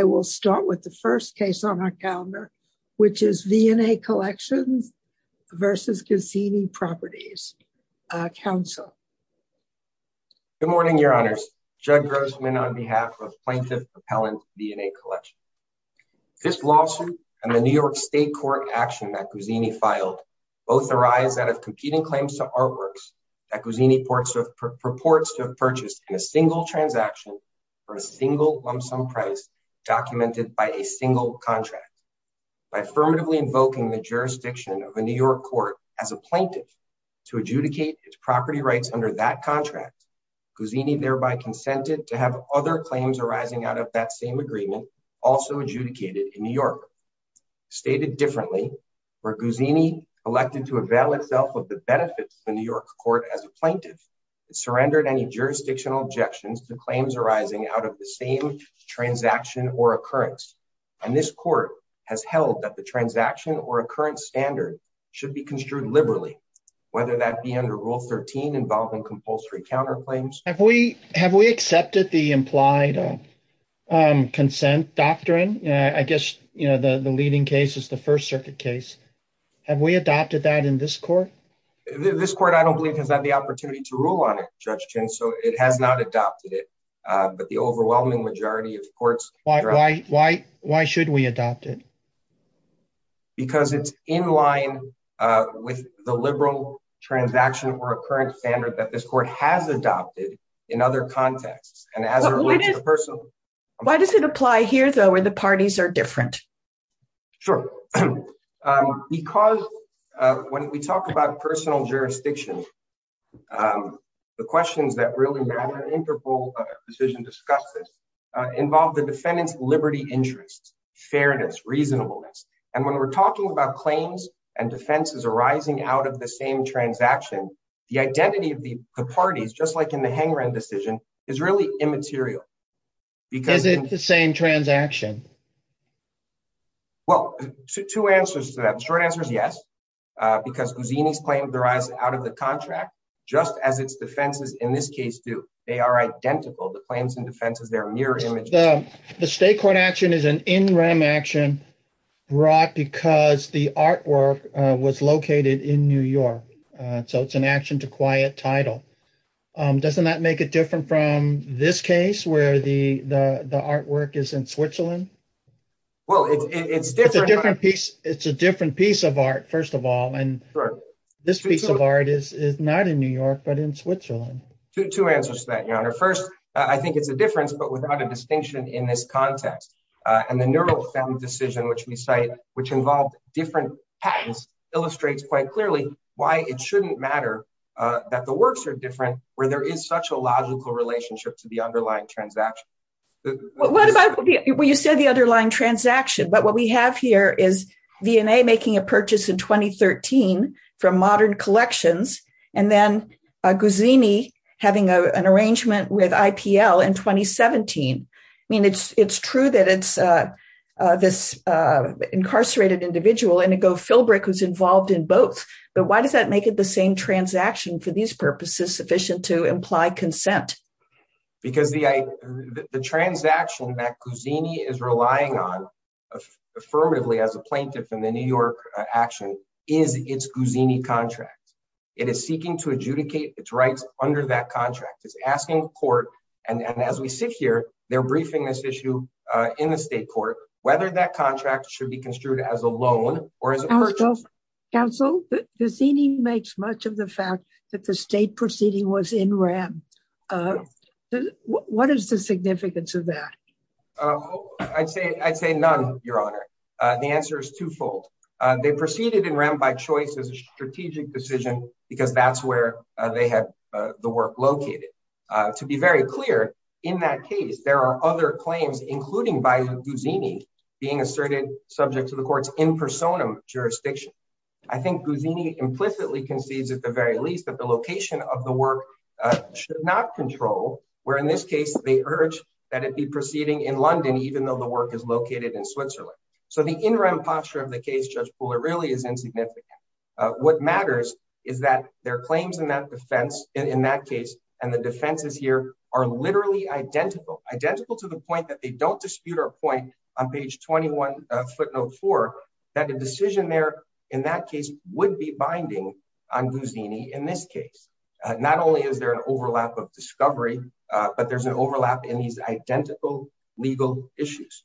I will start with the first case on our calendar, which is V&A Collections v. Guzzini Properties, Council. Good morning, Your Honors. Judd Grossman on behalf of Plaintiff Appellant V&A Collection. This lawsuit and the New York State Court action that Guzzini filed both arise out of competing claims to artworks that Guzzini purports to have purchased in a single transaction for a single lump-sum price documented by a single contract. By affirmatively invoking the jurisdiction of a New York court as a plaintiff to adjudicate its property rights under that contract, Guzzini thereby consented to have other claims arising out of that same agreement also adjudicated in New York. Stated differently, where Guzzini elected to avail itself of the benefits of the New same transaction or occurrence, and this court has held that the transaction or occurrence standard should be construed liberally, whether that be under Rule 13 involving compulsory counterclaims. Have we accepted the implied consent doctrine? I guess the leading case is the First Circuit case. Have we adopted that in this court? This court, I don't believe, has had the opportunity to rule on it, Judge Chin, so it has not adopted it, but the overwhelming majority of courts have adopted it. Why should we adopt it? Because it's in line with the liberal transaction or occurrence standard that this court has adopted in other contexts, and as it relates to the personal jurisdiction. Why does it apply here, though, where the parties are different? Sure. So, because when we talk about personal jurisdiction, the questions that really matter, and Interpol decision discusses, involve the defendant's liberty interests, fairness, reasonableness, and when we're talking about claims and defenses arising out of the same transaction, the identity of the parties, just like in the Hangeron decision, is really immaterial. Is it the same transaction? Well, two answers to that. The short answer is yes, because Guzzini's claims arise out of the contract, just as its defenses in this case do. They are identical. The claims and defenses, they're mirror images. The state court action is an in-rem action brought because the artwork was located in New York, so it's an action to quiet title. Doesn't that make it different from this case, where the artwork is in Switzerland? Well, it's different. It's a different piece of art, first of all, and this piece of art is not in New York, but in Switzerland. Two answers to that, Your Honor. First, I think it's a difference, but without a distinction in this context, and the Neurofem decision, which we cite, which involved different patents, illustrates quite clearly why it is so different, where there is such a logical relationship to the underlying transaction. Well, you said the underlying transaction, but what we have here is V&A making a purchase in 2013 from Modern Collections, and then Guzzini having an arrangement with IPL in 2017. I mean, it's true that it's this incarcerated individual, Inigo Philbrick, who's involved in both, but why does that make it the same transaction for these purposes sufficient to imply consent? Because the transaction that Guzzini is relying on, affirmatively, as a plaintiff in the New York action, is its Guzzini contract. It is seeking to adjudicate its rights under that contract. It's asking court, and as we sit here, they're briefing this issue in the state court, whether that contract should be construed as a loan or as a purchase. So, counsel, Guzzini makes much of the fact that the state proceeding was in REM. What is the significance of that? I'd say none, Your Honor. The answer is twofold. They proceeded in REM by choice as a strategic decision, because that's where they had the work located. To be very clear, in that case, there are other claims, including by Guzzini, being asserted subject to the court's in personam jurisdiction. I think Guzzini implicitly concedes, at the very least, that the location of the work should not control, where in this case, they urge that it be proceeding in London, even though the work is located in Switzerland. So, the in REM posture of the case, Judge Pooler, really is insignificant. What matters is that their claims in that defense, in that case, and the defenses here, are literally identical. Identical to the point that they don't dispute our point on page 21, footnote 4, that the decision there, in that case, would be binding on Guzzini in this case. Not only is there an overlap of discovery, but there's an overlap in these identical legal issues.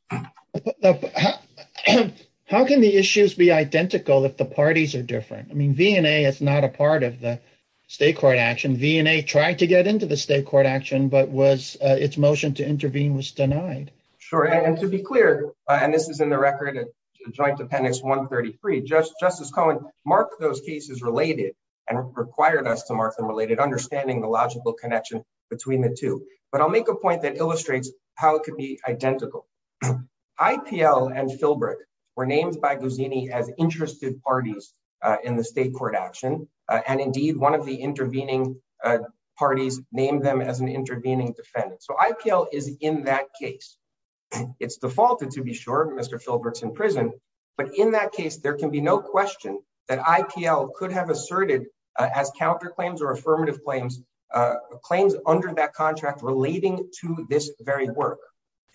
How can the issues be identical if the parties are different? I mean, V&A is not a part of the state court action. I mean, V&A tried to get into the state court action, but its motion to intervene was denied. Sure, and to be clear, and this is in the record, Joint Dependents 133, Justice Cohen marked those cases related, and required us to mark them related, understanding the logical connection between the two. But I'll make a point that illustrates how it could be identical. IPL and Filbreck were named by Guzzini as interested parties in the state court action, and indeed, one of the intervening parties named them as an intervening defendant. So IPL is in that case. It's defaulted, to be sure. Mr. Filbreck's in prison. But in that case, there can be no question that IPL could have asserted, as counterclaims or affirmative claims, claims under that contract relating to this very work.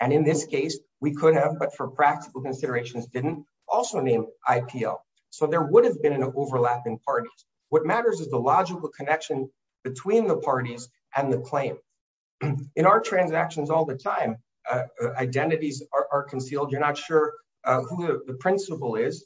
And in this case, we could have, but for practical considerations, didn't also name IPL. So there would have been an overlap in parties. What matters is the logical connection between the parties and the claim. In our transactions all the time, identities are concealed. You're not sure who the principal is,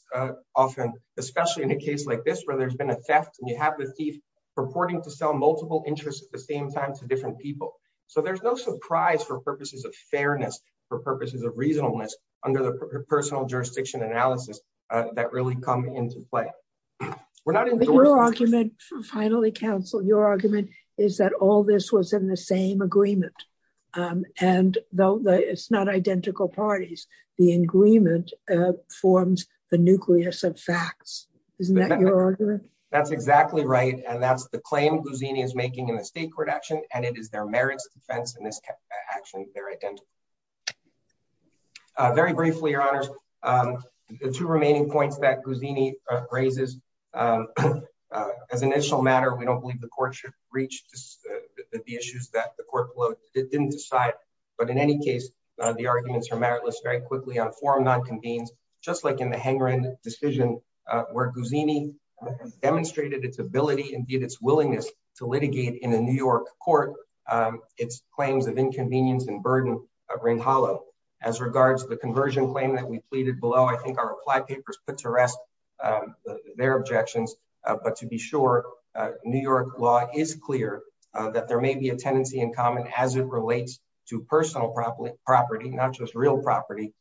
often, especially in a case like this, where there's been a theft and you have the thief purporting to sell multiple interests at the same time to different people. So there's no surprise for purposes of fairness, for purposes of reasonableness, under the personal jurisdiction analysis that really come into play. Your argument, finally, counsel, your argument is that all this was in the same agreement. And it's not identical parties. The agreement forms the nucleus of facts. Isn't that your argument? That's exactly right. And that's the claim Guzzini is making in the state court action. And it is their merits defense in this action that they're identical. Very briefly, your honors, the two remaining points that Guzzini raises, as an initial matter, we don't believe the court should reach the issues that the court didn't decide. But in any case, the arguments are meritless very quickly on form not convenes, just like in the Hengren decision, where Guzzini demonstrated its ability and did its willingness to litigate in a New York court, its claims of inconvenience and burden ring hollow. As regards to the conversion claim that we pleaded below, I think our reply papers put to rest their objections. But to be sure, New York law is clear that there may be a tendency in common as it relates to personal property, property, not just real property,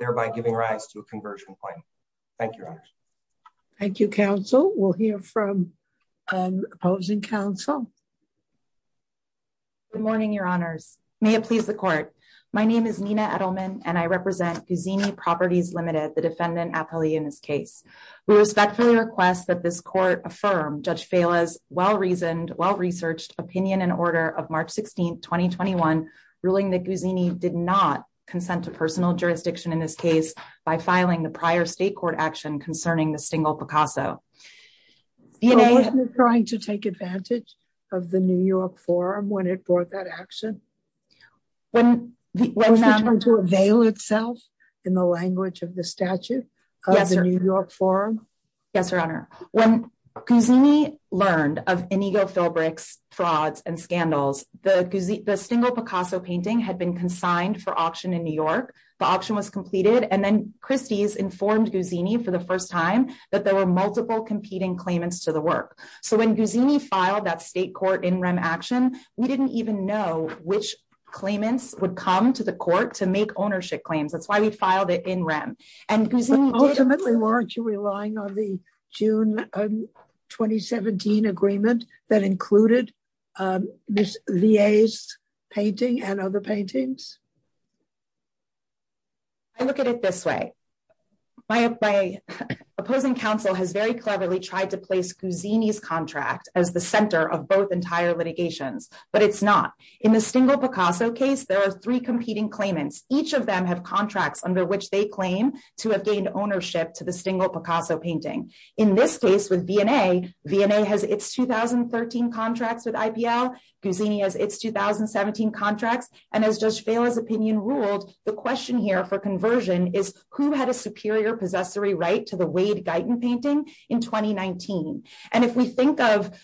thereby giving rise to a conversion claim. Thank you. Thank you, counsel. We'll hear from opposing counsel. Good morning, your honors. May it please the court. My name is Nina Edelman, and I represent Guzzini Properties Limited, the defendant appellee in this case. We respectfully request that this court affirm Judge Fela's well-reasoned, well-researched opinion and order of March 16, 2021, ruling that Guzzini did not consent to personal jurisdiction in this case by filing the prior state court action concerning the Stingle Picasso. Was it trying to take advantage of the New York forum when it brought that action? Was it trying to avail itself in the language of the statute of the New York forum? Yes, your honor. When Guzzini learned of Inigo Philbrick's frauds and scandals, the Stingle Picasso painting had been consigned for auction in New York. The auction was completed, and then Christie's informed Guzzini for the first time that there were multiple competing claimants to the work. So when Guzzini filed that state court in rem action, we didn't even know which claimants would come to the court to make ownership claims. That's why we filed it in rem. Ultimately, weren't you relying on the June 2017 agreement that included this VA's painting and other paintings? I look at it this way. My opposing counsel has very cleverly tried to place Guzzini's contract as the center of both entire litigations, but it's not. In the Stingle Picasso case, there are three competing claimants. Each of them have contracts under which they claim to have gained ownership to the Stingle Picasso painting. In this case with V&A, V&A has its 2013 contracts with IPL, Guzzini has its 2017 contracts, and as Judge Vaila's opinion ruled, the question here for conversion is who had a superior possessory right to the Wade-Guyton painting in 2019? And if we think of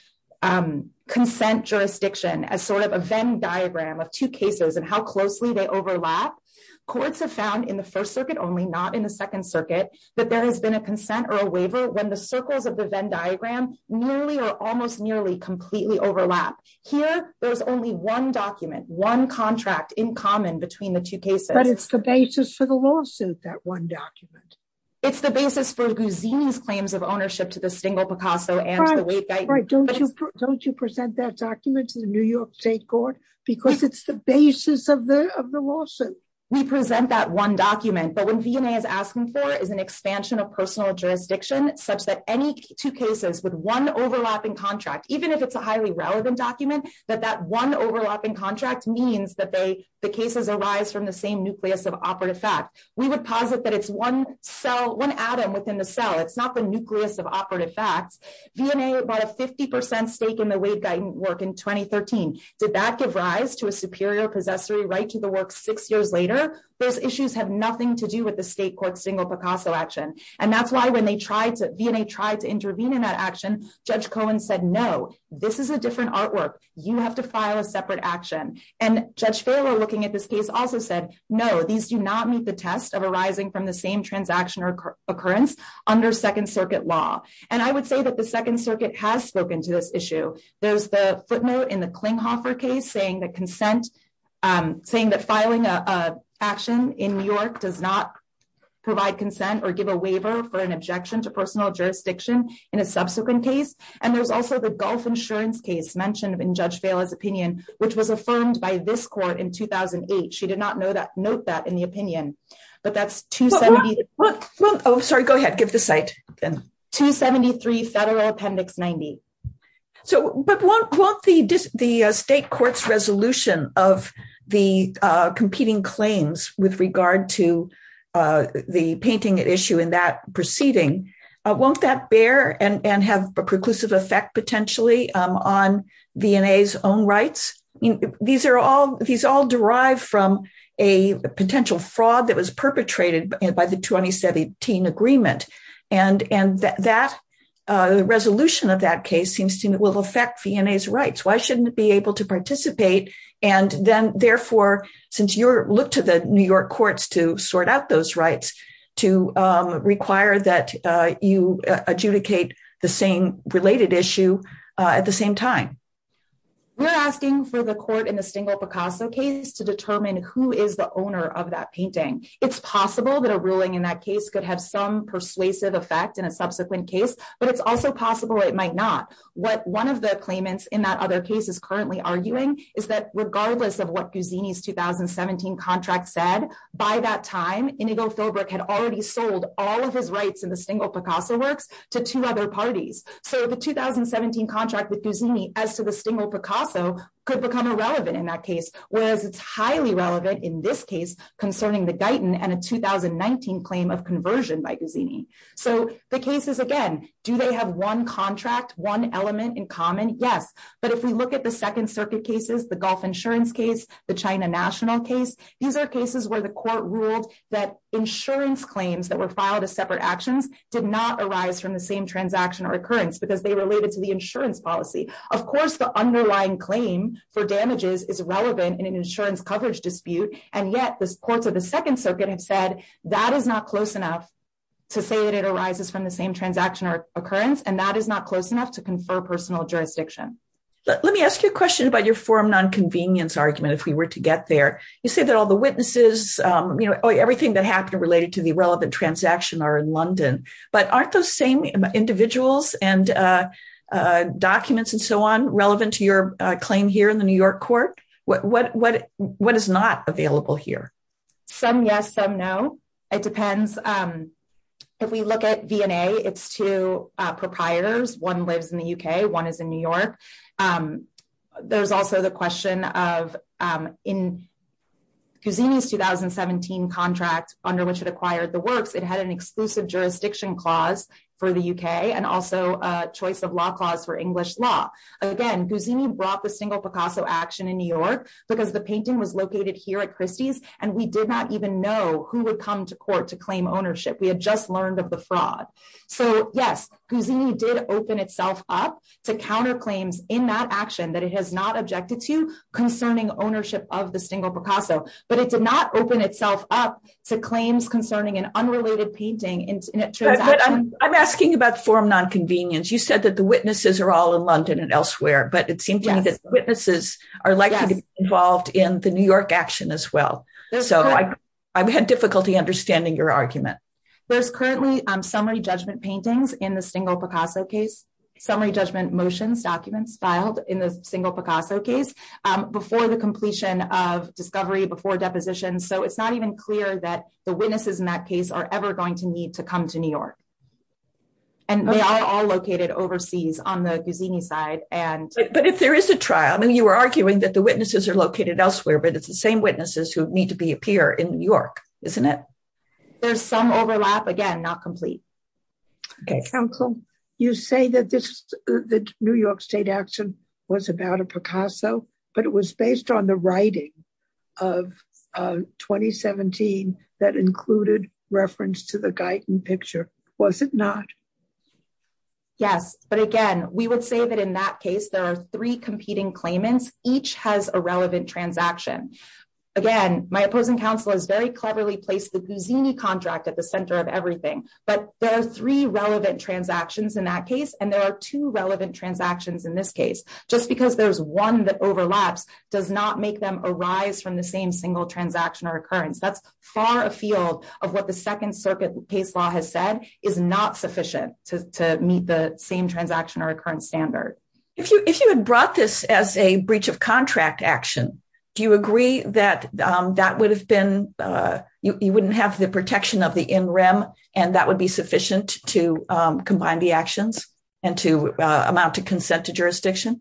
consent jurisdiction as sort of a Venn diagram of two cases and how closely they overlap, courts have found in the First Circuit only, not in the Second Circuit, that there has been a consent or a waiver when the circles of the Venn diagram nearly or almost nearly completely overlap. Here, there's only one document, one contract in common between the two cases. But it's the basis for the lawsuit, that one document. It's the basis for Guzzini's claims of ownership to the Stingle Picasso and the Wade-Guyton. Don't you present that document to the New York State Court? Because it's the basis of the lawsuit. We present that one document, but what V&A is asking for is an expansion of personal jurisdiction such that any two cases with one overlapping contract, even if it's a highly relevant document, that that one overlapping contract means that the cases arise from the same nucleus of operative fact. We would posit that it's one atom within the cell. It's not the nucleus of operative facts. V&A bought a 50% stake in the Wade-Guyton work in 2013. Did that give rise to a superior possessory right to the work six years later? Those issues have nothing to do with the state court's Stingle Picasso action. And that's why when V&A tried to intervene in that action, Judge Cohen said, no, this is a different artwork. You have to file a separate action. And Judge Farrell, looking at this case, also said, no, these do not meet the test of arising from the same transaction or occurrence under Second Circuit law. And I would say that the Second Circuit has spoken to this issue. There's the footnote in the Klinghoffer case saying that consent, saying that filing an action in New York does not provide consent or give a waiver for an objection to personal jurisdiction in a subsequent case. And there's also the Gulf insurance case mentioned in Judge Vaila's opinion, which was affirmed by this court in 2008. She did not note that in the opinion. But that's 273. Oh, sorry. Go ahead. Give the site. 273 Federal Appendix 90. But won't the state court's resolution of the competing claims with regard to the painting issue in that proceeding, won't that bear and have a preclusive effect potentially on V&A's own rights? These all derive from a potential fraud that was perpetrated by the 2017 agreement. And the resolution of that case seems to affect V&A's rights. Why shouldn't it be able to participate? And therefore, since you look to the New York courts to sort out those rights, to require that you adjudicate the same related issue at the same time. We're asking for the court in the Stengel-Picasso case to determine who is the owner of that painting. It's possible that a ruling in that case could have some persuasive effect in a subsequent case. But it's also possible it might not. What one of the claimants in that other case is currently arguing is that regardless of what Guzzini's 2017 contract said, by that time, Inigo Philbrook had already sold all of his rights in the Stengel-Picasso works to two other parties. So the 2017 contract with Guzzini as to the Stengel-Picasso could become irrelevant in that case, whereas it's highly relevant in this case concerning the Guyton and a 2019 claim of conversion by Guzzini. So the case is, again, do they have one contract, one element in common? Yes. But if we look at the Second Circuit cases, the Gulf insurance case, the China national case, these are cases where the court ruled that insurance claims that were filed as separate actions did not arise from the same transaction or occurrence because they related to the insurance policy. Of course, the underlying claim for damages is relevant in an insurance coverage dispute. And yet the courts of the Second Circuit have said that is not close enough to say that it arises from the same transaction or occurrence. And that is not close enough to confer personal jurisdiction. Let me ask you a question about your forum non-convenience argument if we were to get there. You say that all the witnesses, everything that happened related to the relevant transaction are in London. But aren't those same individuals and documents and so on relevant to your claim here in the New York court? What is not available here? Some yes, some no. It depends. If we look at V&A, it's two proprietors. One lives in the UK. One is in New York. There's also the question of in Cusini's 2017 contract under which it acquired the works, it had an exclusive jurisdiction clause for the UK and also a choice of law clause for English law. Again, Cusini brought the Stengel Picasso action in New York because the painting was located here at Christie's and we did not even know who would come to court to claim ownership. We had just learned of the fraud. So yes, Cusini did open itself up to counterclaims in that action that it has not objected to concerning ownership of the Stengel Picasso. But it did not open itself up to claims concerning an unrelated painting in a transaction. I'm asking about forum non-convenience. You said that the witnesses are all in London and elsewhere, but it seems to me that witnesses are likely to be involved in the New York action as well. So I've had difficulty understanding your argument. There's currently summary judgment paintings in the Stengel Picasso case. Summary judgment motions documents filed in the Stengel Picasso case before the completion of discovery, before deposition. So it's not even clear that the witnesses in that case are ever going to need to come to New York. And they are all located overseas on the Cusini side. But if there is a trial, I mean, you were arguing that the witnesses are located elsewhere, but it's the same witnesses who need to appear in New York, isn't it? There's some overlap. Again, not complete. Counsel, you say that the New York state action was about a Picasso, but it was based on the Yes, but again, we would say that in that case, there are three competing claimants. Each has a relevant transaction. Again, my opposing counsel has very cleverly placed the Cusini contract at the center of everything. But there are three relevant transactions in that case. And there are two relevant transactions in this case, just because there's one that overlaps does not make them arise from the same single transaction or occurrence. That's far afield of what the Second Circuit case law has said is not sufficient to meet the same transaction or occurrence standard. If you if you had brought this as a breach of contract action, do you agree that that would have been you wouldn't have the protection of the in rem and that would be sufficient to combine the actions and to amount to consent to jurisdiction?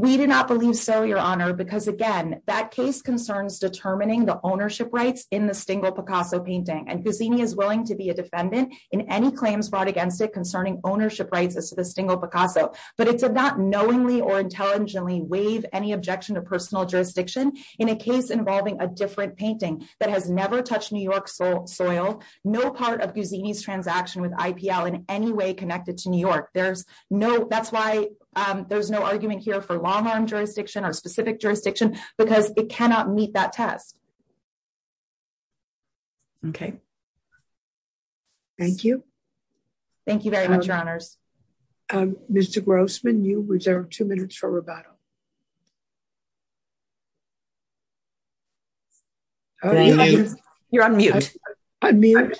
We do not believe so, Your Honor, because again, that case concerns determining the single Picasso painting and Cusini is willing to be a defendant in any claims brought against it concerning ownership rights as to the single Picasso. But it's a not knowingly or intelligently waive any objection to personal jurisdiction in a case involving a different painting that has never touched New York soil. No part of Cusini's transaction with IPL in any way connected to New York. There's no that's why there's no argument here for long arm jurisdiction or specific jurisdiction because it cannot meet that test. OK. Thank you. Thank you very much, Your Honors. Mr. Grossman, you reserve two minutes for rebuttal. Oh, you're on mute. I mean,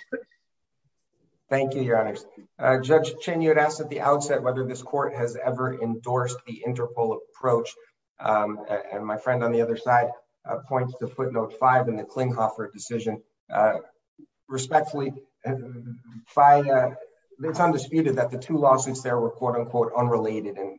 thank you, Your Honors. Judge Chen, you had asked at the outset whether this court has ever endorsed the interval approach. And my friend on the other side points to footnote five in the Klinghoffer decision. Respectfully, it's undisputed that the two lawsuits there were, quote, unquote, unrelated. And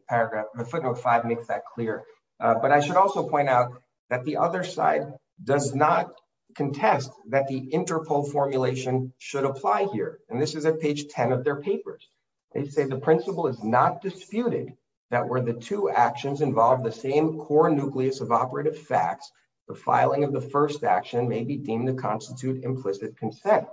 the footnote five makes that clear. But I should also point out that the other side does not contest that the interval formulation should apply here. And this is at page 10 of their papers. They say the principle is not disputed that where the two actions involve the same core nucleus of operative facts, the filing of the first action may be deemed to constitute implicit consent.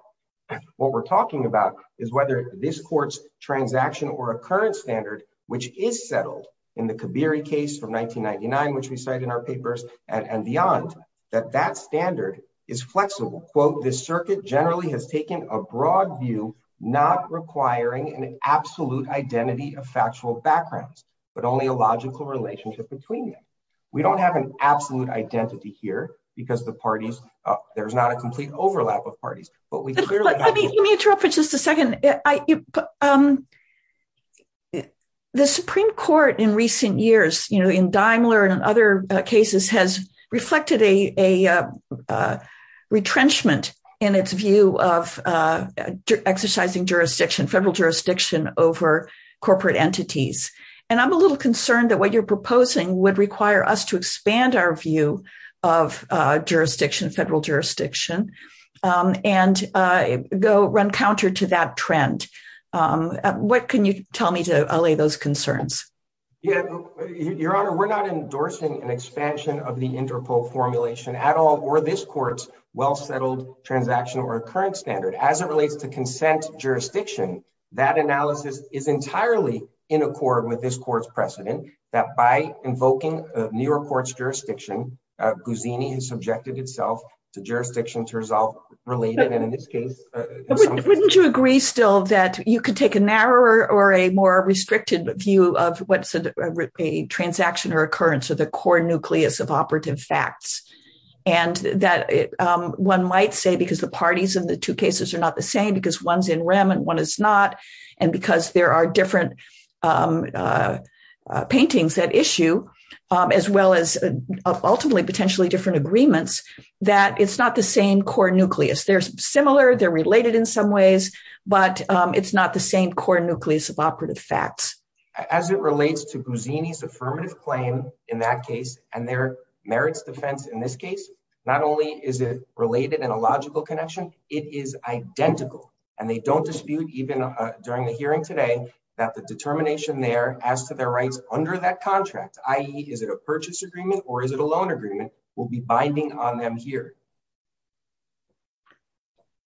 What we're talking about is whether this court's transaction or a current standard, which is settled in the Kibiri case from 1999, which we cite in our papers and beyond, that that standard is flexible. Quote, the circuit generally has taken a broad view, not requiring an absolute identity of factual backgrounds, but only a logical relationship between them. We don't have an absolute identity here because the parties, there's not a complete overlap of parties. Let me interrupt for just a second. The Supreme Court in recent years, you know, in Daimler and other cases, has reflected a retrenchment in its view of exercising jurisdiction, federal jurisdiction, over corporate entities. And I'm a little concerned that what you're proposing would require us to expand our view of jurisdiction, federal jurisdiction, and go run counter to that trend. What can you tell me to allay those concerns? Your Honor, we're not endorsing an expansion of the Interpol formulation at all, or this court's well-settled transaction or current standard. As it relates to consent jurisdiction, that analysis is entirely in accord with this court's precedent, that by invoking a newer court's jurisdiction, Guzzini has subjected itself to jurisdiction to resolve related, and in this case. Wouldn't you agree still that you could take a narrower or a more restricted view of what's a transaction or occurrence of the core nucleus of operative facts? And that one might say, because the parties in the two cases are not the same, because one's in REM and one is not, and because there are different paintings that issue, as well as ultimately potentially different agreements, that it's not the same core nucleus. They're similar, they're related in some ways, but it's not the same core nucleus of operative facts. As it relates to Guzzini's affirmative claim in that case and their merits defense in this case, not only is it related in a logical connection, it is identical. And they don't dispute, even during the hearing today, that the determination there as to their rights under that contract, i.e., is it a purchase agreement or is it a loan agreement, will be binding on them here.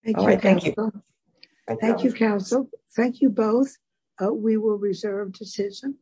Thank you. Thank you, counsel. Thank you both. We will reserve decision.